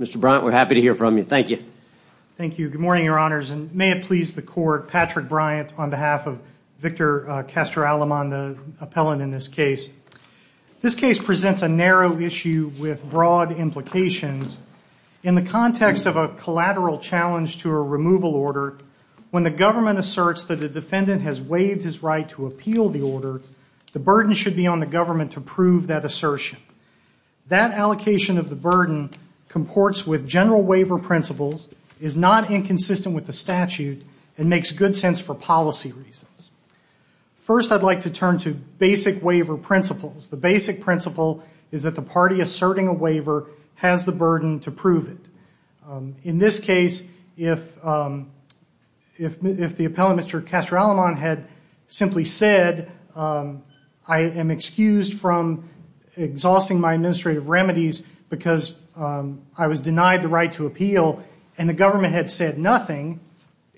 Mr. Bryant, we're happy to hear from you. Thank you. Thank you. Good morning, Your Honors, and may it please the Court, Patrick Bryant on behalf of Victor Castro-Aleman, the appellant in this case. This case presents a narrow issue with broad implications. In the context of a collateral challenge to a removal order, when the government asserts that the defendant has waived his right to appeal the order, the burden should be on the government to prove that assertion. That allocation of the burden comports with general waiver principles, is not inconsistent with the statute, and makes good sense for policy reasons. First, I'd like to turn to basic waiver principles. The basic principle is that the party asserting a waiver has the burden to prove it. In this case, if the appellant, Mr. Castro-Aleman, had simply said, I am excused from exhausting my administrative remedies because I was denied the right to appeal, and the government had said nothing,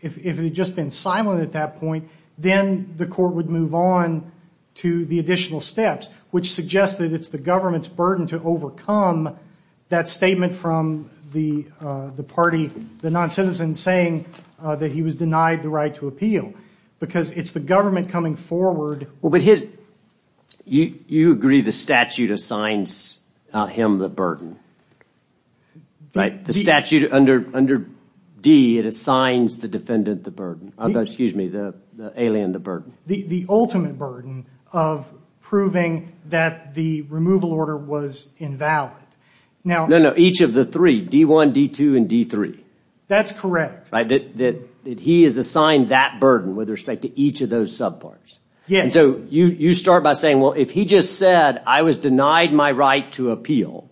if it had just been silent at that point, then the court would move on to the additional steps, which suggests that it's the government's burden to overcome that statement from the party, the non-citizen, saying that he was denied the right to appeal, because it's the government coming forward. You agree the statute assigns him the burden, right? The statute under D, it assigns the defendant the burden, excuse me, the alien the burden. The ultimate burden of proving that the removal order was invalid. No, no, each of the three, D1, D2, and D3. That's correct. That he is assigned that burden with respect to each of those subparts. Yes. So you start by saying, well, if he just said, I was denied my right to appeal,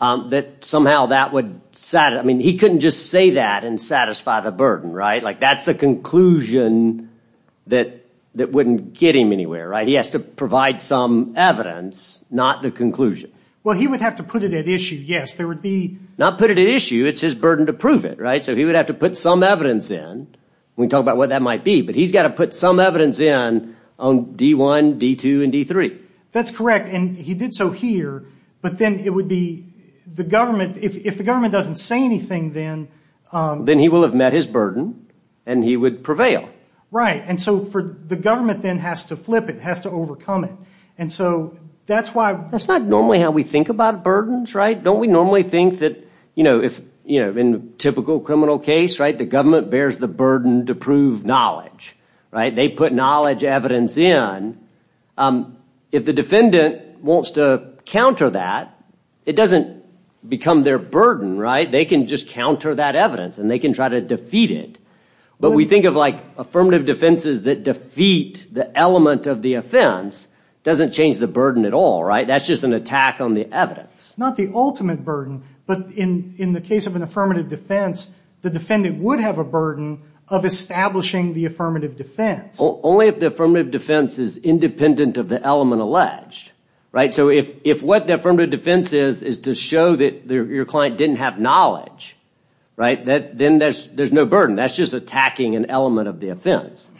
that somehow that would, I mean, he couldn't just say that and satisfy the burden, right? Like, that's the conclusion that wouldn't get him anywhere, right? He has to provide some evidence, not the conclusion. Well, he would have to put it at issue, yes. Not put it at issue, it's his burden to prove it, right? So he would have to put some evidence in. We talked about what that might be, but he's got to put some evidence in on D1, D2, and D3. That's correct, and he did so here, but then it would be the government, if the government doesn't say anything then... Then he will have met his burden, and he would prevail. Right, and so the government then has to flip it, has to overcome it, and so that's why... That's not normally how we think about burdens, right? Don't we normally think that, you know, if, you know, in typical criminal case, right, the government bears the burden to prove knowledge, right? They put knowledge, evidence in. If the defendant wants to counter that, it doesn't become their burden, right? They can just counter that evidence, and they can try to defeat it, but we think of, like, affirmative defenses that defeat the element of the offense doesn't change the burden at all, right? That's just an attack on the evidence. Not the ultimate burden, but in the case of an affirmative defense, the defendant would have a burden of establishing the affirmative defense. Only if the affirmative defense is independent of the element alleged, right? So if what the affirmative defense is, is to show that your client didn't have knowledge, right, then there's no burden. That's just attacking an element of the offense,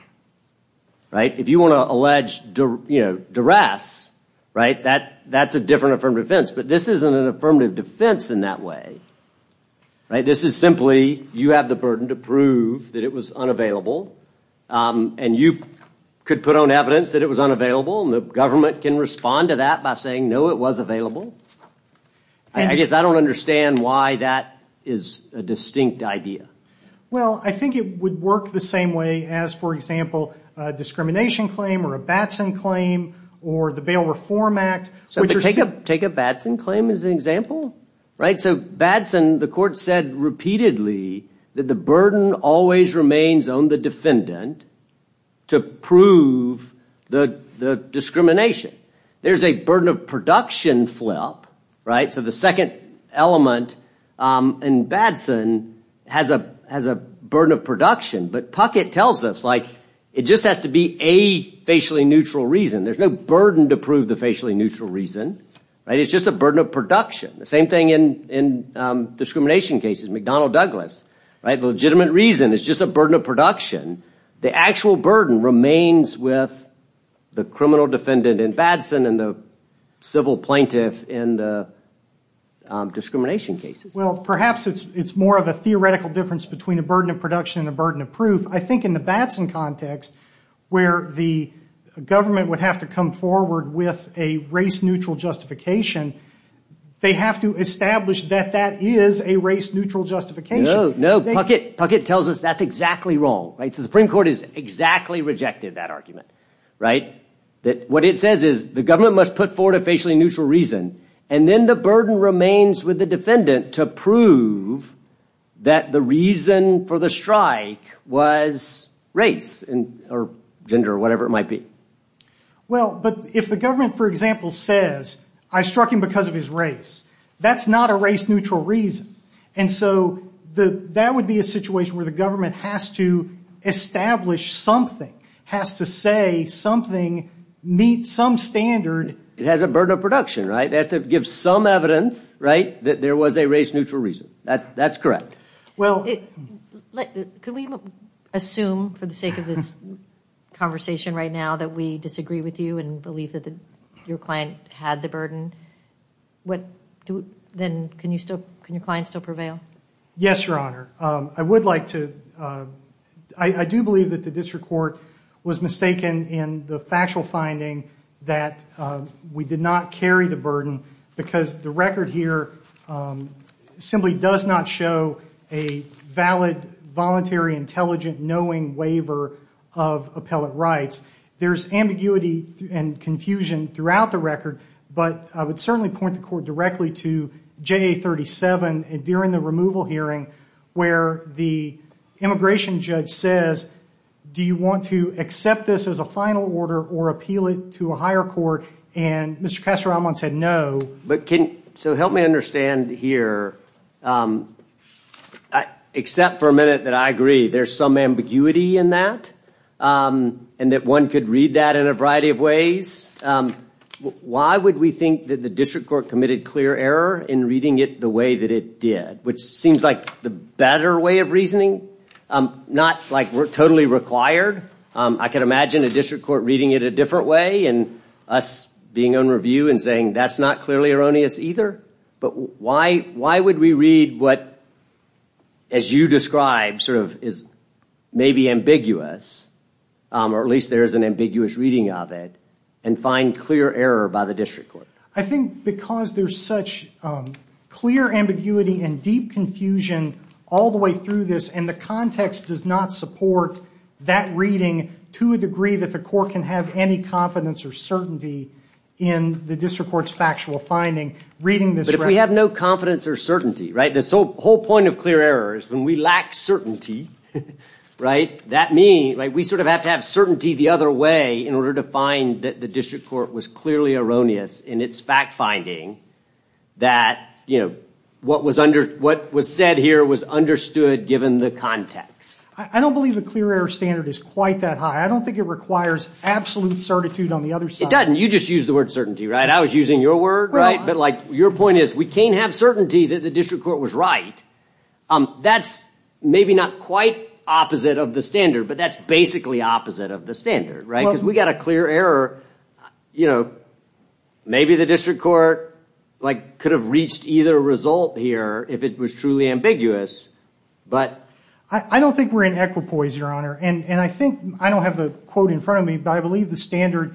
right? If you want to allege, you know, duress, right, that's a different affirmative defense, but this isn't an affirmative defense in that way, right? This is simply, you have the burden to prove that it was unavailable, and you could put on evidence that it was unavailable, and the government can respond to that by saying, no, it was available. I guess I don't understand why that is a distinct idea. Well, I think it would work the same way as, for example, discrimination claim, or a Batson claim, or the Bail Reform Act. So take a Batson claim as an example, right? So Batson, the court said repeatedly that the burden always remains on the defendant to prove the discrimination. There's a burden of production flip, right? So the second element in Batson has a burden of production, but Puckett tells us, like, it just has to be a facially neutral reason. There's no burden to prove the facially neutral reason, right? It's just a burden of production. The same thing in discrimination cases. McDonnell Douglas, right? The legitimate reason is just a burden of production. The actual burden remains with the criminal defendant in Batson and the civil plaintiff in the discrimination cases. Well, perhaps it's more of a theoretical difference between a burden of production and a burden of proof. I think in the Batson context, where the government would have to come forward with a race-neutral justification, they have to establish that that is a race-neutral justification. No, no, Puckett tells us that's exactly wrong, right? The Supreme Court has exactly rejected that argument, right? That what it says is the government must put forward a facially neutral reason that the reason for the strike was race or gender or whatever it might be. Well, but if the government, for example, says, I struck him because of his race, that's not a race-neutral reason. And so that would be a situation where the government has to establish something, has to say something meets some standard. It has a burden of production, right? They have to give some evidence, right, that there was a race-neutral reason. That's correct. Well, could we assume for the sake of this conversation right now that we disagree with you and believe that your client had the burden? What do then, can you still, can your client still prevail? Yes, Your Honor. I would like to, I do believe that the district court was mistaken in the factual finding that we did not carry the burden because the record here simply does not show a valid, voluntary, intelligent, knowing waiver of appellate rights. There's ambiguity and confusion throughout the record, but I would certainly point the court directly to JA 37 and during the removal hearing where the immigration judge says, do you want to accept this as a final order or appeal it to a higher court? And Mr. Kassaraman said no. But can, so help me understand here. Except for a minute that I agree there's some ambiguity in that and that one could read that in a variety of ways. Why would we think that the district court committed clear error in reading it the way that it did? Which seems like the better way of reasoning, not like we're totally required. I can imagine a district court reading it a different way and us being on review and saying that's not clearly erroneous either. But why, why would we read what, as you describe, sort of is maybe ambiguous, or at least there is an ambiguous reading of it, and find clear error by the district court? I think because there's such clear ambiguity and deep confusion all the way through this and the context does not support that reading to a degree that the court can have any confidence or certainty in the district court's factual finding reading this. But if we have no confidence or certainty, right, this whole point of clear error is when we lack certainty, right, that means we sort of have to have certainty the other way in order to find that the district court was clearly erroneous in its fact-finding that, you know, what was under, what was said here was understood given the context. I don't believe the clear error standard is quite that high. I don't think it requires absolute certitude on the other side. It doesn't. You just used the word certainty, right? I was using your word, right? But like your point is we can't have certainty that the district court was right. That's maybe not quite opposite of the standard, but that's basically opposite of the standard, right? Because we got a clear error, you know, maybe the district court, like, could have reached either result here if it was truly ambiguous, but... I don't think we're in equipoise, Your Honor, and I think, I don't have the quote in front of me, but I believe the standard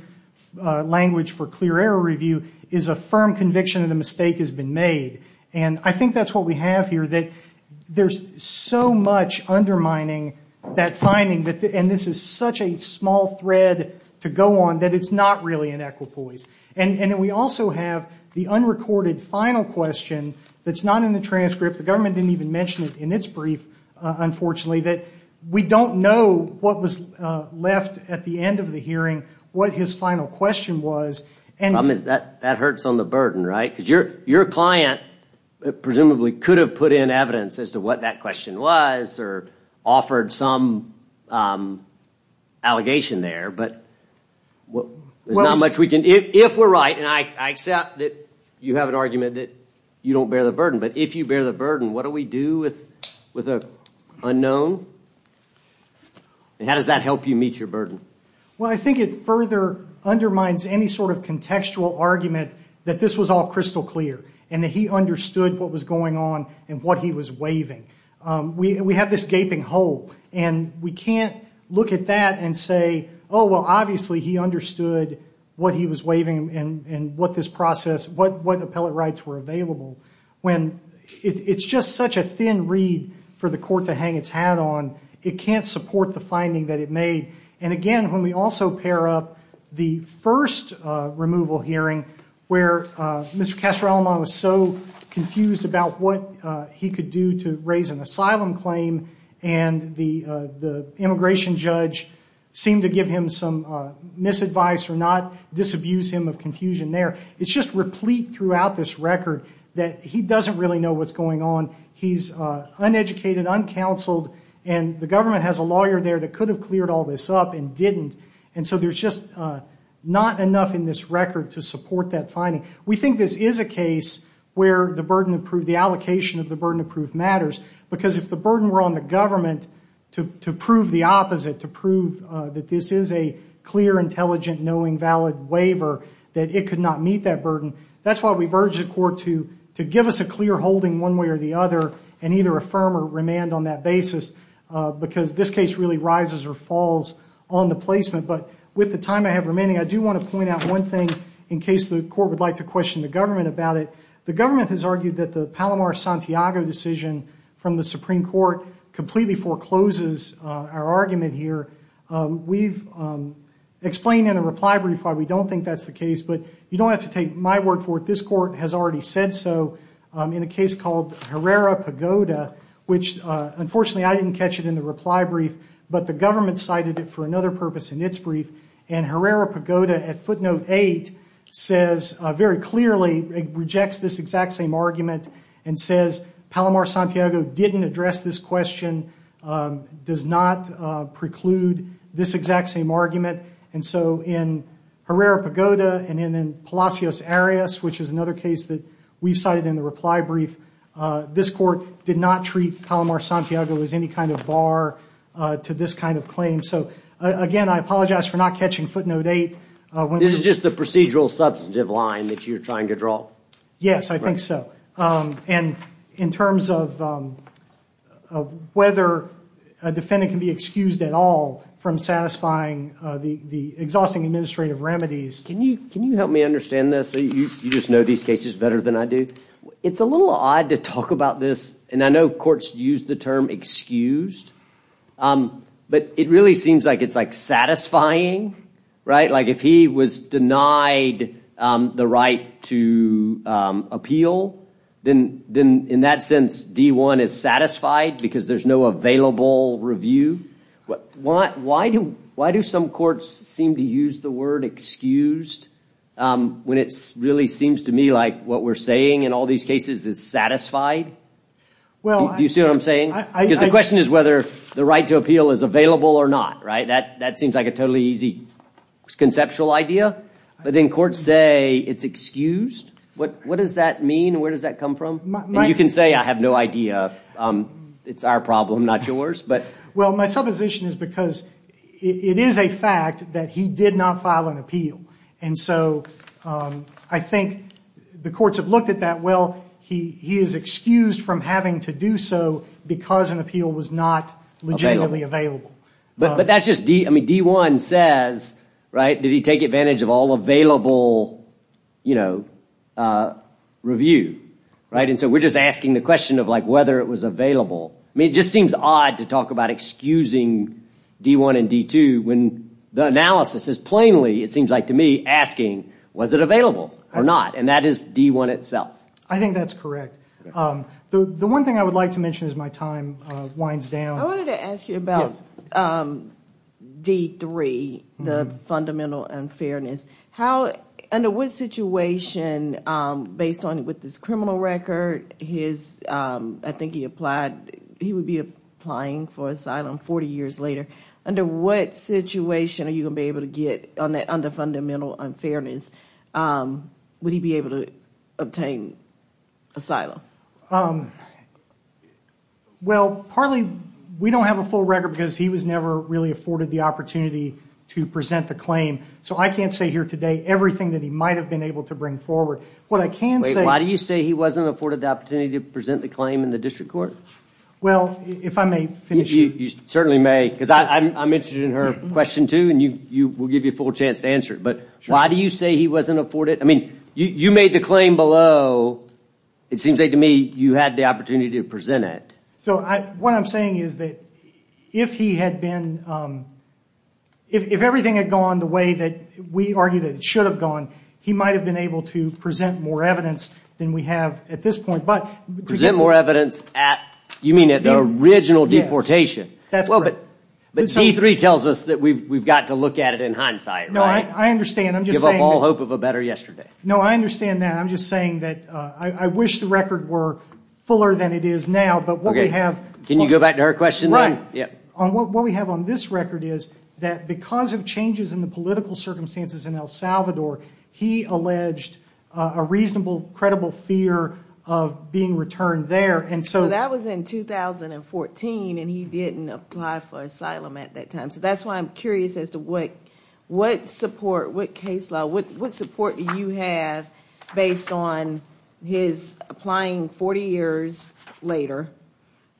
language for clear error review is a firm conviction of the mistake has been made. And I think that's what we have here, that there's so much undermining that finding that, and this is such a small thread to go on, that it's not really in equipoise. And we also have the unrecorded final question that's not in the transcript. The government didn't even mention it in its brief, unfortunately, that we don't know what was left at the end of the hearing, what his final question was. And... The problem is that that hurts on the burden, right? Because your client presumably could have put in evidence as to what that question was, or offered some allegation there, but what... There's not much we can... If we're right, and I accept that you have an argument that you don't bear the burden, but if you bear the burden, what do we do with an unknown? And how does that help you meet your burden? Well, I think it further undermines any sort of contextual argument that this was all crystal clear, and that he understood what was going on and what he was waiving. We have this gaping hole, and we can't look at that and say, oh, well, obviously he understood what he was waiving and what this process... What appellate rights were available, when it's just such a thin reed for the court to hang its hat on. It can't support the finding that it made. And again, when we also pair up the first removal hearing, where Mr. Castro-Alemán was so confused about what he could do to raise an asylum claim, and the immigration judge seemed to give him some misadvice or not, disabuse him of confusion there. It's just replete throughout this record that he doesn't really know what's going on. He's uneducated, uncounseled, and the government has a lawyer there that could have cleared all this up and didn't. And so there's just not enough in this record to support that finding. We think this is a case where the burden of proof, the allocation of the burden of proof matters, because if the burden were on the government to prove the opposite, to prove that this is a clear, intelligent, knowing, valid waiver, that it could not meet that burden. That's why we've urged the court to give us a clear holding one way or the other, and either affirm or remand on that basis, because this case really rises or falls on the placement. But with the time I have remaining, I do want to point out one thing in case the court would like to question the government about it. The Palomar-Santiago decision from the Supreme Court completely forecloses our argument here. We've explained in a reply brief why we don't think that's the case, but you don't have to take my word for it. This court has already said so in a case called Herrera-Pagoda, which unfortunately I didn't catch it in the reply brief, but the government cited it for another purpose in its brief. And Herrera-Pagoda at footnote eight says very clearly, rejects this exact same argument, and says Palomar-Santiago didn't address this question, does not preclude this exact same argument. And so in Herrera-Pagoda and in Palacios-Arias, which is another case that we cited in the reply brief, this court did not treat Palomar-Santiago as any kind of bar to this kind of claim. So again, I apologize for not catching footnote eight. This is just the procedural substantive line that you're trying to draw. Yes, I think so. And in terms of whether a defendant can be excused at all from satisfying the exhausting administrative remedies. Can you help me understand this? You just know these cases better than I do. It's a little odd to talk about this, and I know courts use the term excused, but it really seems like it's like satisfying, right? Like if he was denied the right to appeal, then in that sense, D-1 is satisfied because there's no available review. But why do some courts seem to use the word excused when it really seems to me like what we're saying in all these cases is satisfied? Do you see what I'm saying? Because the question is whether the right to appeal is available or not, right? That seems like a totally easy conceptual idea, but then courts say it's excused. What does that mean? Where does that come from? You can say I have no idea. It's our problem, not yours. Well, my supposition is because it is a fact that he did not file an appeal, and so I think the courts have looked at that. Well, he is excused from having to do so because an appeal was not legitimately available. But that's just D-1 says, right, did he take advantage of all available, you know, review, right? And so we're just asking the question of like whether it was available. I mean, it just seems odd to talk about excusing D-1 and D-2 when the analysis is plainly, it seems like to me, asking was it available or not, and that is D-1 itself. I think that's correct. The one thing I would like to is my time winds down. I wanted to ask you about D-3, the fundamental unfairness. How, under what situation, based on with this criminal record, his, I think he applied, he would be applying for asylum 40 years later. Under what situation are you gonna be able to get on that under fundamental unfairness? Would he be able to obtain asylum? Well, partly we don't have a full record because he was never really afforded the opportunity to present the claim, so I can't say here today everything that he might have been able to bring forward. What I can say... Why do you say he wasn't afforded the opportunity to present the claim in the district court? Well, if I may finish... You certainly may, because I'm interested in her question too, and you will give you a full chance to answer it. But why do you say he wasn't afforded... I mean, you made the claim below. It seems like to me you had the opportunity to present it. So what I'm saying is that if he had been... If everything had gone the way that we argue that it should have gone, he might have been able to present more evidence than we have at this point. But... To present more evidence at... You mean at the original deportation? That's correct. But D-3 tells us that we've got to look at it in hindsight, right? No, I understand. I'm just saying... Give up all hope of a better yesterday. No, I understand that. I'm just saying that I wish the record were fuller than it is now, but what we have... Can you go back to her question? Right. What we have on this record is that because of changes in the political circumstances in El Salvador, he alleged a reasonable, credible fear of being returned there, and so... That was in 2014 and he didn't apply for asylum at that time, so that's why I'm curious as to what support, what case law, what support do you have based on his applying 40 years later?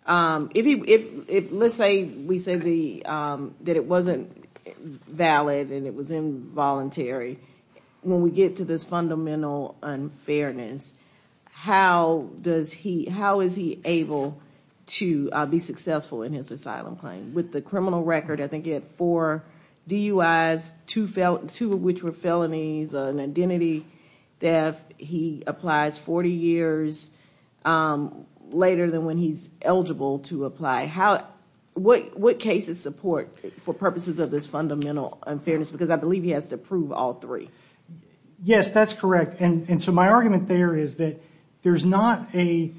If he... Let's say we said that it wasn't valid and it was involuntary. When we get to this fundamental unfairness, how does he... How is he able to be successful in his asylum claim? With the criminal record, I think that for DUIs, two of which were felonies, an identity theft, he applies 40 years later than when he's eligible to apply. How... What cases support, for purposes of this fundamental unfairness? Because I believe he has to prove all three. Yes, that's correct, and so my argument there is that there's not a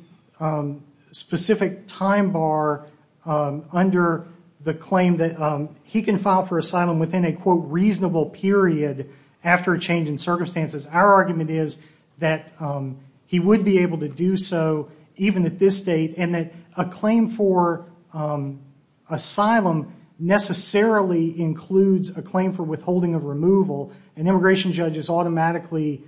specific time bar under the claim that he can file for asylum within a reasonable period after a change in circumstances. Our argument is that he would be able to do so even at this date, and that a claim for asylum necessarily includes a claim for withholding of removal, and immigration judge is automatically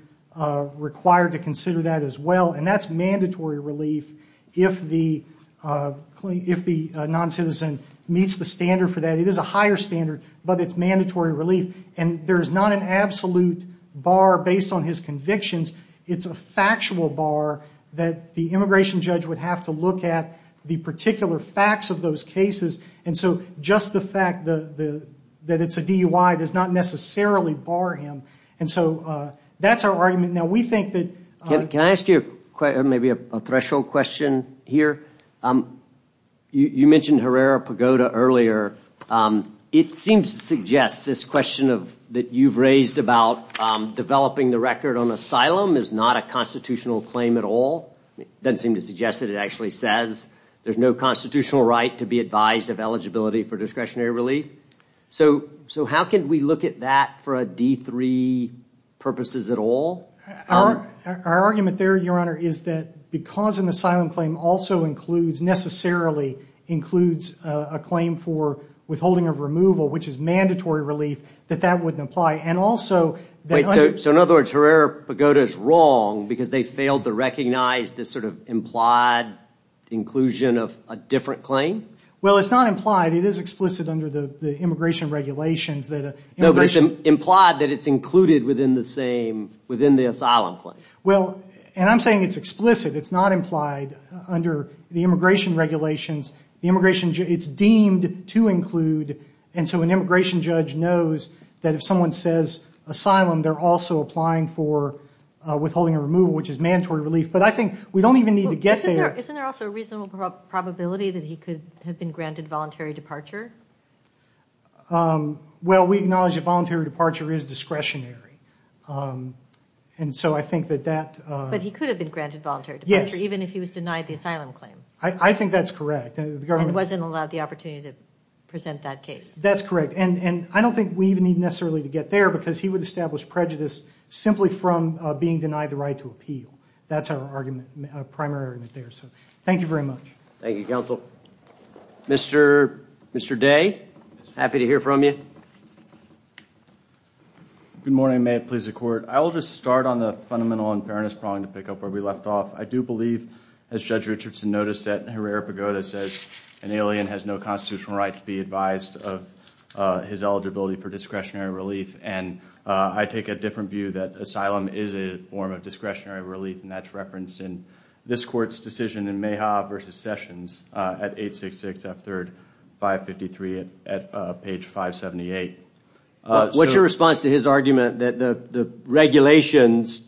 required to consider that as well, and that's mandatory relief if the non-citizen meets the standard for that. It is a higher standard, but it's mandatory relief, and there's not an absolute bar based on his convictions. It's a factual bar that the immigration judge would have to look at the particular facts of those cases, and so just the fact that it's a DUI does not necessarily bar him, and so that's our argument. Now, we think that... Can I ask you maybe a threshold question here? You mentioned Herrera Pagoda earlier. It seems to suggest this question that you've raised about developing the record on asylum is not a constitutional claim at all. It doesn't seem to suggest it. It actually says there's no constitutional right to be advised of eligibility for discretionary relief, so how can we look at that for a D3 purposes at all? Our argument there, your honor, is that because an asylum claim also includes, necessarily includes, a claim for withholding of removal, which is mandatory relief, that that wouldn't apply, and also... So in other words, Herrera Pagoda is wrong because they failed to recognize this sort of implied inclusion of a different claim? Well, it's not implied. It is explicit under the immigration regulations that... No, but it's implied that it's included within the same, within the asylum claim. Well, and I'm saying it's explicit. It's not implied under the immigration regulations. The immigration, it's deemed to include, and so an immigration judge knows that if someone says asylum, they're also applying for withholding a removal, which is mandatory relief, but I think we don't even need to get there. Isn't there also a reasonable probability that he could have been granted voluntary departure? Well, we acknowledge that voluntary departure is discretionary, and so I think that that... But he could have been granted voluntary departure, even if he was denied the asylum claim? I think that's correct. And wasn't allowed the opportunity to present that case? That's correct, and I don't think we even need necessarily to get there because he would establish prejudice simply from being denied the right to appeal. That's our argument, primary argument there, so thank you very much. Thank you, counsel. Mr. Day, happy to hear from you. Good morning. May it please the Court. I will just start on the fundamental unfairness prong to pick up where we left off. I do believe, as Judge Richardson noticed, that Herrera-Pagoda says an alien has no constitutional right to be advised of his eligibility for discretionary relief, and I take a different view that asylum is a form of discretionary relief, and that's referenced in this Court's decision in Mayhaw v. Sessions at 866 F. 3rd 553 at page 578. What's your response to his argument that the regulations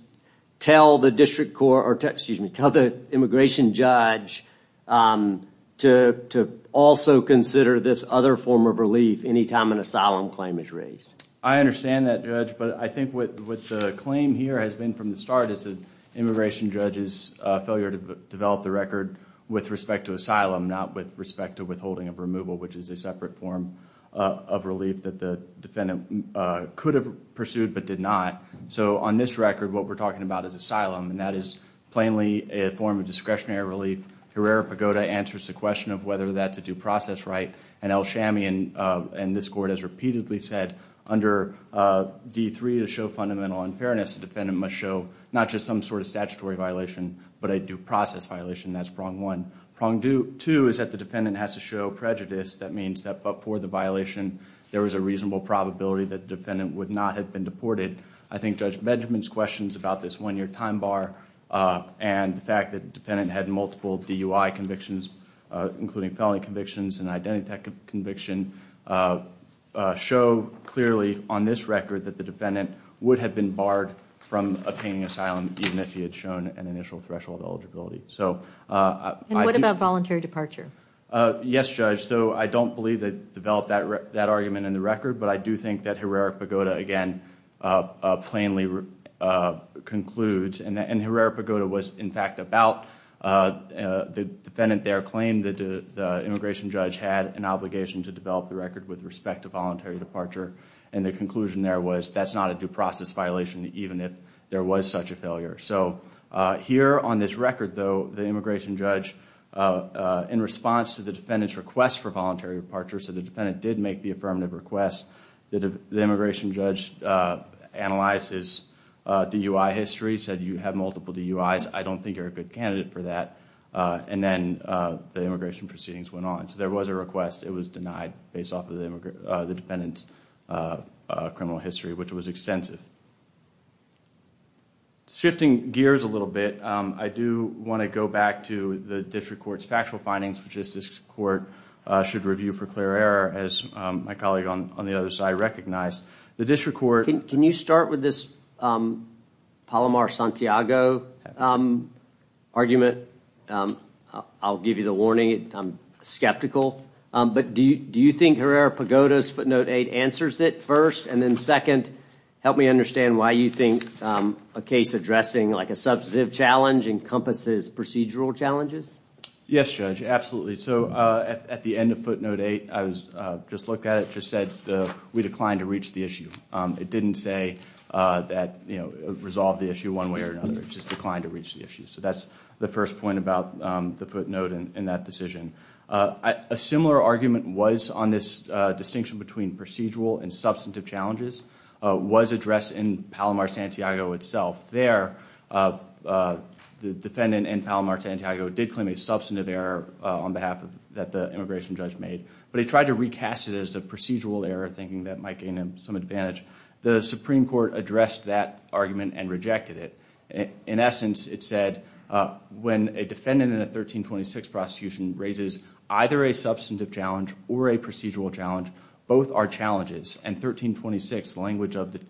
tell the district court, or excuse me, tell the immigration judge to also consider this other form of relief any time an asylum claim is raised? I understand that, Judge, but I think what the claim here has been from the start is the immigration judge's failure to develop the record with respect to asylum, not with respect to withholding of removal, which is a separate form of relief that the defendant could have pursued but did not. So on this record, what we're talking about is asylum, and that is plainly a form of discretionary relief. Herrera-Pagoda answers the question of whether that's a due process right, and L. Shamian and this Court has repeatedly said under D. 3 to show fundamental unfairness, the defendant must show not just some sort of statutory violation, but a due process violation. That's prong one. Prong two is that the defendant has to show prejudice. That means that for the violation, there was a reasonable probability that the defendant would not have been deported. I think Judge Benjamin's questions about this one-year time bar and the fact that the defendant had multiple DUI convictions, including felony convictions and identity conviction, show clearly on this record that the defendant would have been barred from obtaining asylum even if he had shown an initial threshold eligibility. And what about voluntary departure? Yes, Judge, so I don't believe they developed that argument in the record, but I do think that Herrera-Pagoda, again, plainly concludes, and Herrera-Pagoda was in fact about the defendant there claimed that the immigration judge had an obligation to develop the record with respect to voluntary departure, and the conclusion there was that's not a due process violation even if there was such a failure. So here on this record, though, the immigration judge, in response to the defendant's request for voluntary departure, so the defendant did make the affirmative request, the immigration judge analyzed his DUI history, said you have multiple DUIs. I don't think you're a good candidate for that, and then the immigration proceedings went on. So there was a request. It was denied based off of the defendant's criminal history, which was extensive. Shifting gears a little bit, I do want to go back to the district court's factual findings, which is this court should review for clear error, as my colleague on the other side recognized. The district court... Can you start with this Palomar-Santiago argument? I'll give you the warning, I'm skeptical, but do you think Herrera-Pagoda footnote 8 answers it first, and then second, help me understand why you think a case addressing like a substantive challenge encompasses procedural challenges? Yes, Judge, absolutely. So at the end of footnote 8, I just looked at it, just said we declined to reach the issue. It didn't say that, you know, resolve the issue one way or another. It just declined to reach the issue. So that's the first point about the footnote in that decision. A similar argument was on this distinction between procedural and substantive challenges was addressed in Palomar-Santiago itself. There, the defendant in Palomar-Santiago did claim a substantive error on behalf of that the immigration judge made, but he tried to recast it as a procedural error, thinking that might gain him some advantage. The Supreme Court addressed that argument and rejected it. In essence, it said when a defendant in a 1326 prosecution raises either a substantive challenge or a procedural challenge, both are challenges, and 1326 language of the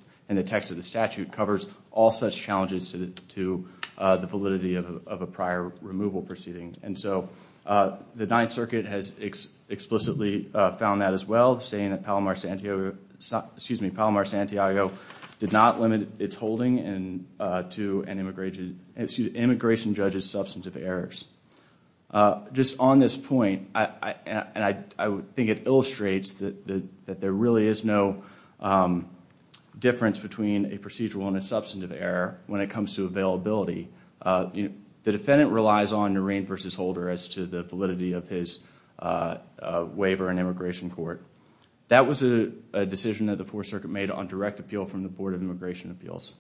text of the statute covers all such challenges to the validity of a prior removal proceeding. And so the Ninth Circuit has explicitly found that as well, saying that Palomar-Santiago did not limit its holding to an immigration judge's substantive errors. Just on this point, and I think it illustrates that there really is no difference between a procedural and a substantive error when it comes to availability, the defendant relies on Noreen v. Holder as to the validity of his waiver in immigration court. That was a decision that the Fourth Circuit made on direct appeal from the Board of Immigration Appeals.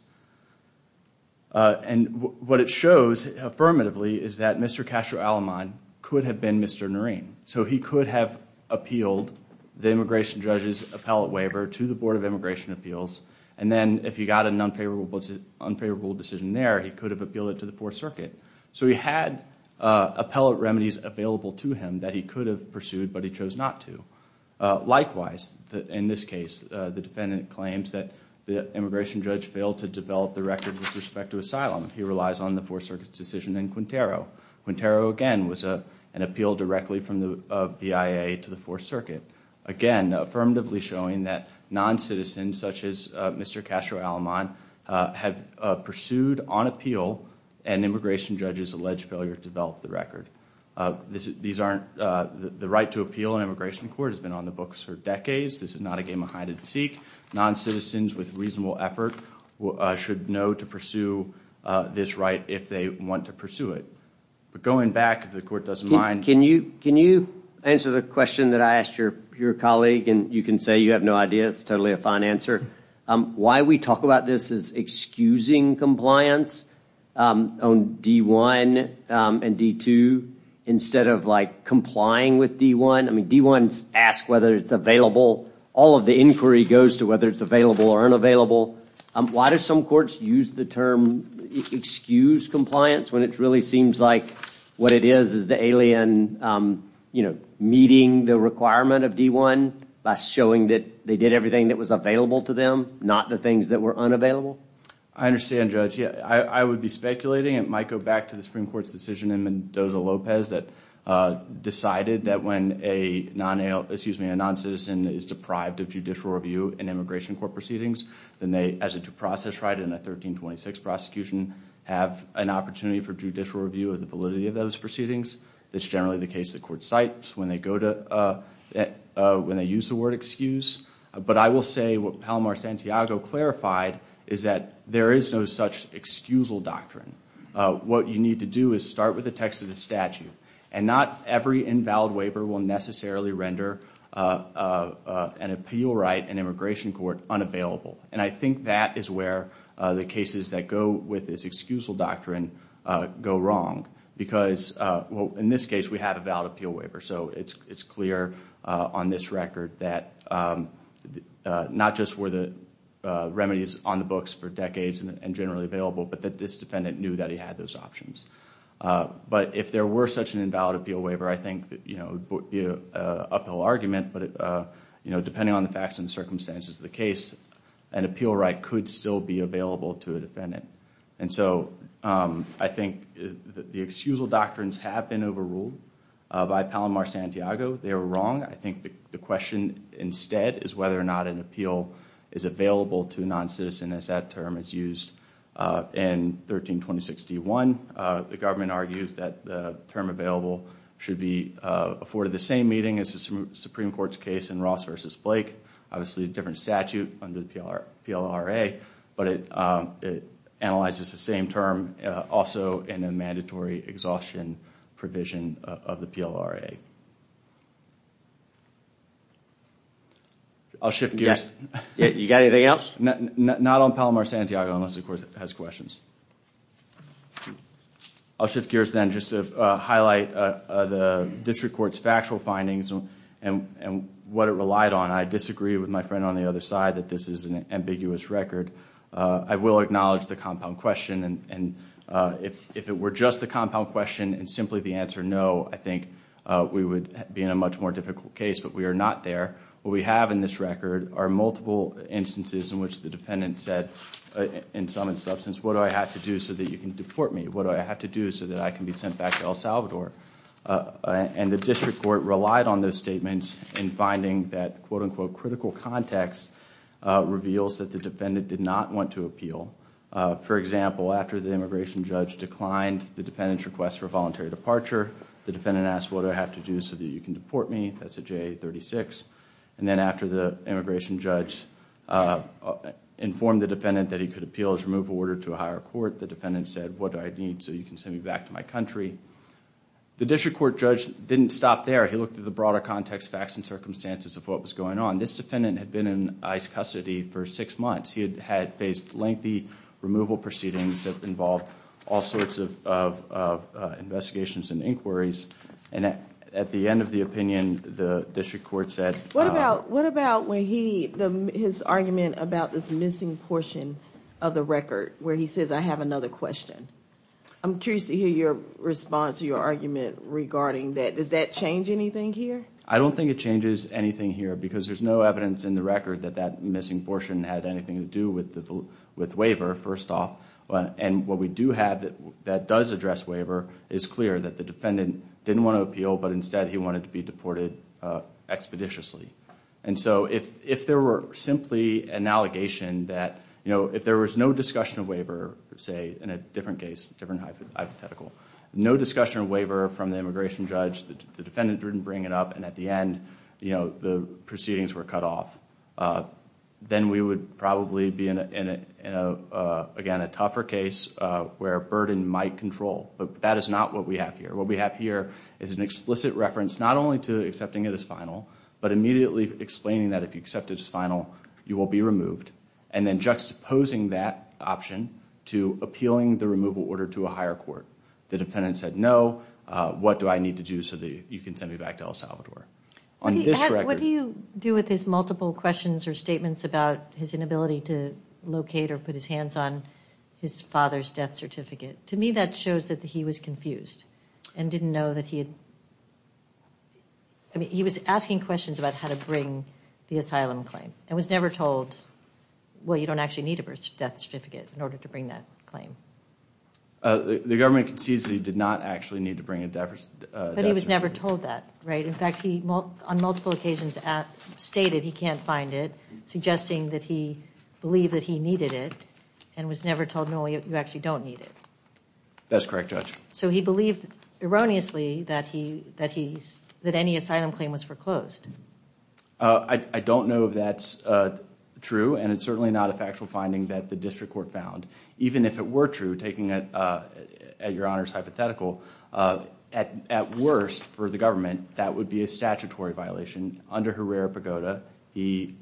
And what it shows affirmatively is that Mr. Castro-Aleman could have been Mr. Noreen. So he could have appealed the immigration judge's appellate waiver to the Board of Immigration Appeals, and then if he got an unfavorable decision there, he could have appealed it to the Fourth Circuit. So he had appellate remedies available to him that he could have pursued, but he chose not to. Likewise, in this case, the defendant claims that the immigration judge failed to develop the record with respect to asylum. He relies on the from the BIA to the Fourth Circuit. Again, affirmatively showing that non-citizens such as Mr. Castro-Aleman have pursued on appeal, and immigration judges allege failure to develop the record. The right to appeal in immigration court has been on the books for decades. This is not a game of hide and seek. Non-citizens with reasonable effort should know to pursue this right if they want to pursue it. But going back, if the court doesn't mind. Can you answer the question that I asked your colleague, and you can say you have no idea, it's totally a fine answer. Why we talk about this is excusing compliance on D-1 and D-2 instead of like complying with D-1. I mean, D-1 asks whether it's available. All of the inquiry goes to whether it's available or unavailable. Why do some courts use the term excuse compliance when it really seems like what it is is the alien, you know, meeting the requirement of D-1 by showing that they did everything that was available to them, not the things that were unavailable? I understand, Judge. Yeah, I would be speculating. It might go back to the Supreme Court's decision in Mendoza-Lopez that decided that when a non-citizen is deprived of judicial review in immigration court proceedings, then they, as a due process right in a 1326 prosecution, have an opportunity for judicial review of the validity of those proceedings. That's generally the case the court cites when they go to, when they use the word excuse. But I will say what Palomar Santiago clarified is that there is no such excusal doctrine. What you need to do is start with the text of the statute. And not every invalid waiver will necessarily render an appeal right in immigration court unavailable. And I think that is where the cases that go with this excusal doctrine go wrong. Because, well, in this case we have a valid appeal waiver. So it's clear on this record that not just were the remedies on the books for decades and generally available, but that this defendant knew that he had those options. But if there were such an invalid appeal waiver, I think that, you know, it would be an uphill argument. But, you know, depending on the circumstances of the case, an appeal right could still be available to a defendant. And so I think the excusal doctrines have been overruled by Palomar Santiago. They were wrong. I think the question instead is whether or not an appeal is available to non-citizens as that term is used. In 132061, the government argues that the term available should be afforded the same meeting as the Supreme Court's case in Ross v. Blake. Obviously a different statute under the PLRA, but it analyzes the same term also in a mandatory exhaustion provision of the PLRA. I'll shift gears. Yeah, you got anything else? Not on Palomar Santiago unless, of course, it has questions. I'll shift gears then just to highlight the District Court's factual findings and what it relied on. I disagree with my friend on the other side that this is an ambiguous record. I will acknowledge the compound question and if it were just the compound question and simply the answer no, I think we would be in a much more difficult case. But we are not there. What we have in this record are multiple instances in which the defendant said, in sum and substance, what do I have to do so that you can deport me? What do I have to do so that I can be sent back to El Salvador? The District Court relied on those statements in finding that, quote-unquote, critical context reveals that the defendant did not want to appeal. For example, after the immigration judge declined the defendant's request for voluntary departure, the defendant asked, what do I have to do so that you can deport me? That's a JA 36. Then after the immigration judge informed the defendant that he could appeal his removal order to a higher court, the defendant said, what do I need so you can send me back to my country? The District Court judge didn't stop there. He looked at the broader context, facts, and circumstances of what was going on. This defendant had been in ICE custody for six months. He had faced lengthy removal proceedings that involved all sorts of investigations and inquiries. And at the end of the opinion, the District Court said... What about, what about when he, his argument about this missing portion of the record where he says, I have another question. I'm curious to hear your response, your argument regarding that. Does that change anything here? I don't think it changes anything here because there's no evidence in the record that that missing portion had anything to do with the, with waiver, first off. And what we do have that, that does address waiver is clear that the defendant didn't want to appeal but instead he wanted to be deported expeditiously. And so if, if there were simply an allegation that, you know, if there was no discussion of waiver, say in a different case, different hypothetical, no discussion of waiver from the immigration judge, the defendant didn't bring it up, and at the end, you know, the proceedings were cut off, then we would probably be in a, again, a tougher case where burden might control. But that is not what we have here. What we have here is an explicit reference, not only to accepting it as final, but immediately explaining that if you accept it as final, you will be removed, and then juxtaposing that option to appealing the removal order to a higher court. The defendant said no, what do I need to do so that you can send me back to El Salvador? On this record... What do you do with his multiple questions or statements about his inability to locate or put his hands on his father's death certificate? To me that shows that he was confused and didn't know that he had, I had to bring the asylum claim, and was never told, well, you don't actually need a birth death certificate in order to bring that claim. The government concedes that he did not actually need to bring a death certificate. But he was never told that, right? In fact, he, on multiple occasions, stated he can't find it, suggesting that he believed that he needed it, and was never told, no, you actually don't need it. That's correct, Judge. So he believed erroneously that he, that any asylum claim was foreclosed. I don't know if that's true, and it's certainly not a factual finding that the district court found. Even if it were true, taking it at Your Honor's hypothetical, at worst, for the government, that would be a statutory violation. Under Herrera-Pagoda, he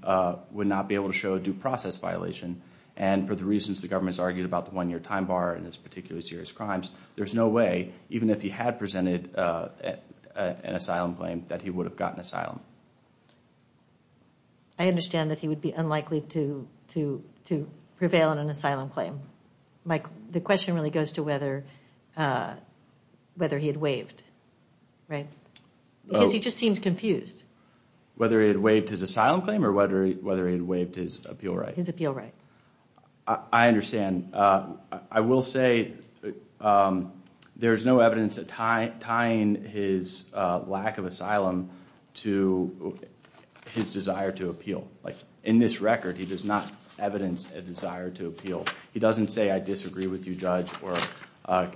would not be able to show a due process violation, and for the reasons the government's argued about the one-year time bar and this particularly serious crimes, there's no way, even if he had presented an asylum claim, that he would have gotten asylum. I understand that he would be unlikely to prevail on an asylum claim. Mike, the question really goes to whether he had waived, right? Because he just seems confused. Whether he had waived his asylum claim, or whether he had waived his appeal right? His appeal right. I understand. I will say there's no evidence that tying his lack of asylum to his desire to appeal. Like, in this record, he does not evidence a desire to appeal. He doesn't say, I disagree with you, Judge, or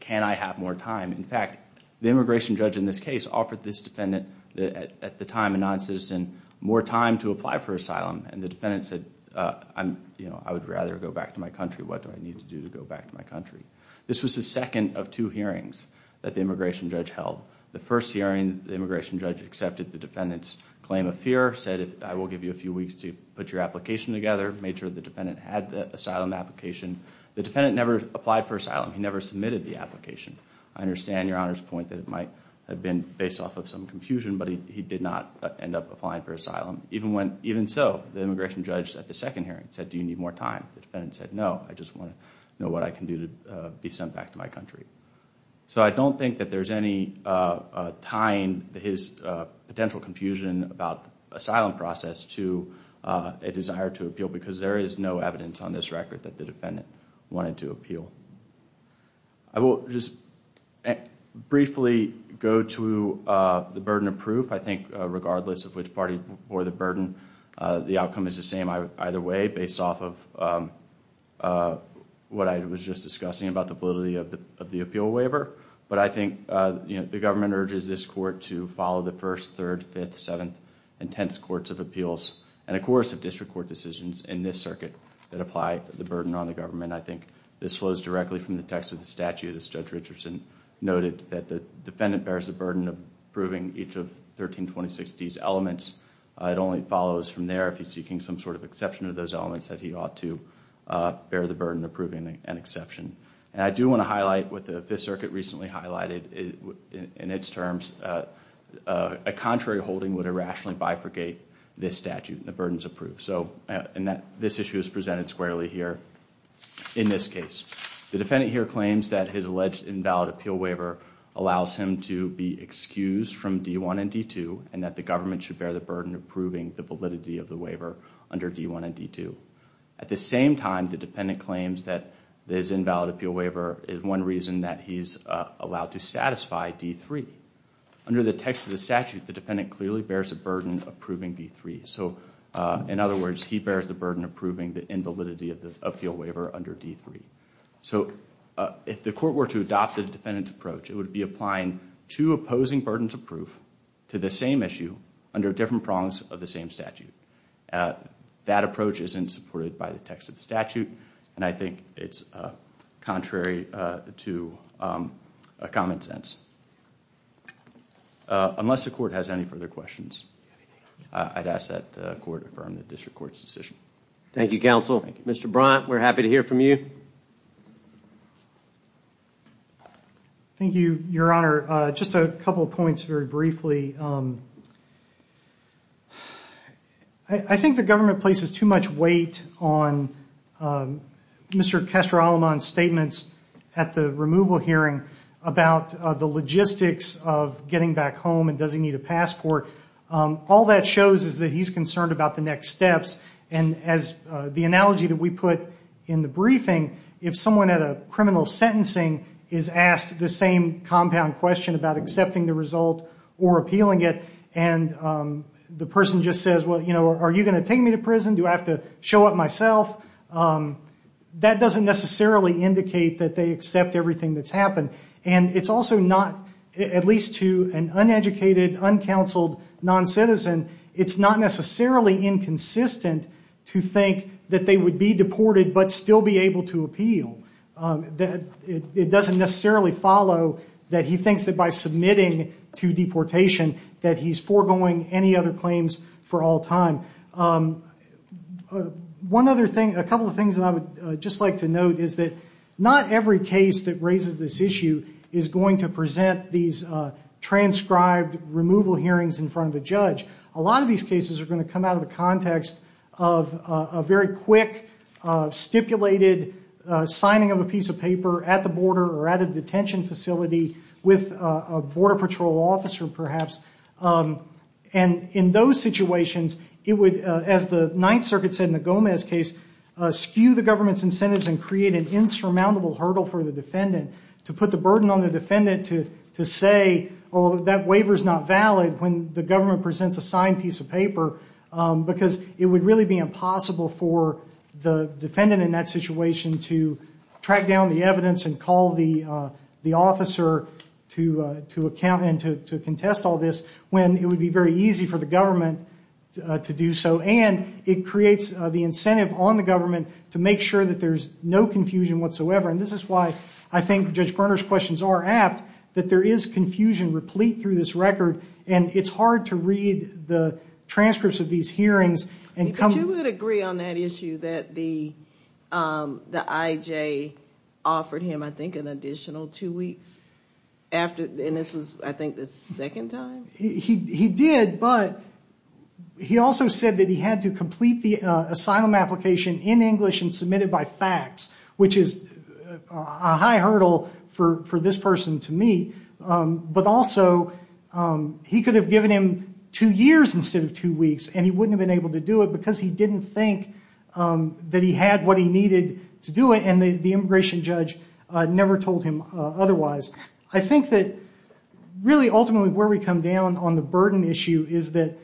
can I have more time? In fact, the immigration judge in this case offered this defendant, at the time a non-citizen, more time to apply for asylum, and the defendant said, I'm, you know, I would rather go back to my country. What do I need to do to go back to my country? This was the second of two hearings that the immigration judge held. The first hearing, the immigration judge accepted the defendant's claim of fear, said I will give you a few weeks to put your application together, made sure the defendant had the asylum application. The defendant never applied for asylum. He never submitted the application. I understand, Your Honor's point, that it might have been based off of some confusion, but he did not end up applying for asylum. Even when, even so, the immigration judge at the second hearing said, do you need more time? The defendant said, no, I just want to know what I can do to be sent back to my country. So I don't think that there's any tying his potential confusion about the asylum process to a desire to appeal, because there is no evidence on this record that the defendant wanted to appeal. I will just briefly go to the burden of proof. I think, regardless of which party bore the burden, the outcome is the same either way, based off of what I was just discussing about the validity of the appeal waiver. But I think, you know, the government urges this court to follow the first, third, fifth, seventh, and tenth courts of appeals, and a chorus of district court decisions in this circuit that apply the burden on the government. I think this flows directly from the text of the statute, as Judge Richardson noted, that the defendant bears the burden of proving each of 132060's elements. It only follows from there, if he's seeking some sort of exception to those elements, that he ought to bear the burden of proving an exception. And I do want to highlight what the Fifth Circuit recently highlighted in its terms. A contrary holding would irrationally bifurcate this statute, and the burden is approved. So, and this issue is presented squarely here in this case. The defendant asks him to be excused from D1 and D2, and that the government should bear the burden of proving the validity of the waiver under D1 and D2. At the same time, the defendant claims that this invalid appeal waiver is one reason that he's allowed to satisfy D3. Under the text of the statute, the defendant clearly bears a burden approving D3. So, in other words, he bears the burden of proving the invalidity of the appeal waiver under D3. So, if the court were to adopt the defendant's approach, it would be applying two opposing burdens of proof to the same issue under different prongs of the same statute. That approach isn't supported by the text of the statute, and I think it's contrary to common sense. Unless the court has any further questions, I'd ask that the court affirm the district court's decision. Thank you, counsel. Mr. Brunt, we're happy to hear from you. Thank you, Your Honor. Just a couple of points very briefly. I think the government places too much weight on Mr. Kestrel-Alleman's statements at the removal hearing about the logistics of getting back home and does he need a passport. All that shows is that he's concerned about the next steps, and as the analogy that we put in the briefing, if someone at a criminal sentencing is asked the same compound question about accepting the result or appealing it, and the person just says, well, you know, are you going to take me to prison? Do I have to show up myself? That doesn't necessarily indicate that they accept everything that's happened, and it's also not, at least to an uneducated, uncounseled non-citizen, it's not necessarily inconsistent to think that they would be deported but still be able to appeal. It doesn't necessarily follow that he thinks that by submitting to deportation that he's foregoing any other claims for all time. One other thing, a couple of things that I would just like to note is that not every case that raises this issue is going to present these transcribed removal hearings in front of a judge. A lot of these cases are going to come out of the context of a very quick, stipulated signing of a piece of paper at the border or at a detention facility with a border patrol officer, perhaps, and in those situations it would, as the Ninth Circuit said in the Gomez case, skew the government's incentives and create an insurmountable hurdle for the defendant to put the burden on the defendant to say, oh, that waiver's not valid when the government presents a signed piece of paper because it would really be impossible for the defendant in that situation to track down the evidence and call the officer to account and to contest all this when it would be very easy for the government to do so. And it creates the incentive on the government to make sure that there's no confusion whatsoever. And this is why I think Judge Berner's questions are apt, that there is confusion replete through this record and it's hard to read the transcripts of these hearings and come... But you would agree on that issue that the IJ offered him, I think, an additional two weeks after, and this was, I think, the second time? He did, but he also said that he had to complete the asylum application in English and submit it by fax, which is a high hurdle for this person to meet. But also, he could have given him two years instead of two weeks and he wouldn't have been able to do it because he didn't think that he had what he needed to do it and the immigration judge never told him otherwise. I think that, really, ultimately where we come down on the burden issue is that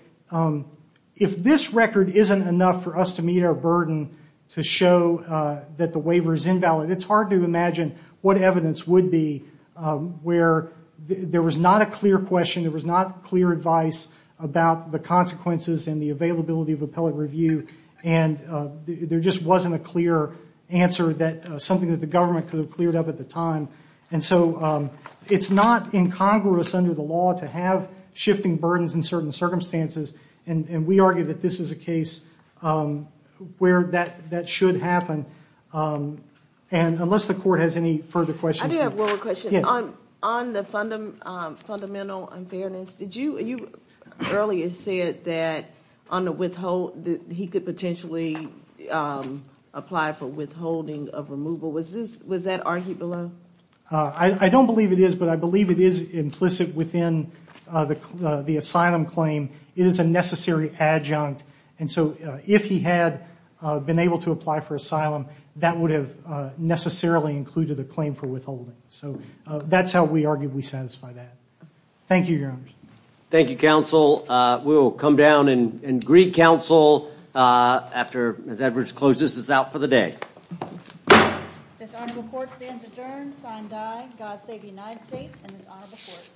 if this record isn't enough for us to meet our burden, to show that the waiver is invalid, it's hard to imagine what evidence would be where there was not a clear question, there was not clear advice about the consequences and the availability of appellate review and there just wasn't a clear answer that something that the government could have cleared up at the time. And so, it's not incongruous under the law to have shifting burdens in certain circumstances and we argue that this is a case where that should happen. And unless the court has any further questions... I do have one more question. On the fundamental unfairness, you earlier said that he could potentially apply for withholding of removal. Was that argued below? I don't believe it is, but I believe it is implicit within the asylum claim. It is a necessary adjunct and so if he had been able to apply for asylum, that would have necessarily included a claim for withholding. So, that's how we arguably satisfy that. Thank you, Your Honor. Thank you, counsel. We will come down and greet counsel after Ms. Edwards closes. This is out for the day. This honorable court stands adjourned. Signed by God Save the United States and this honorable court.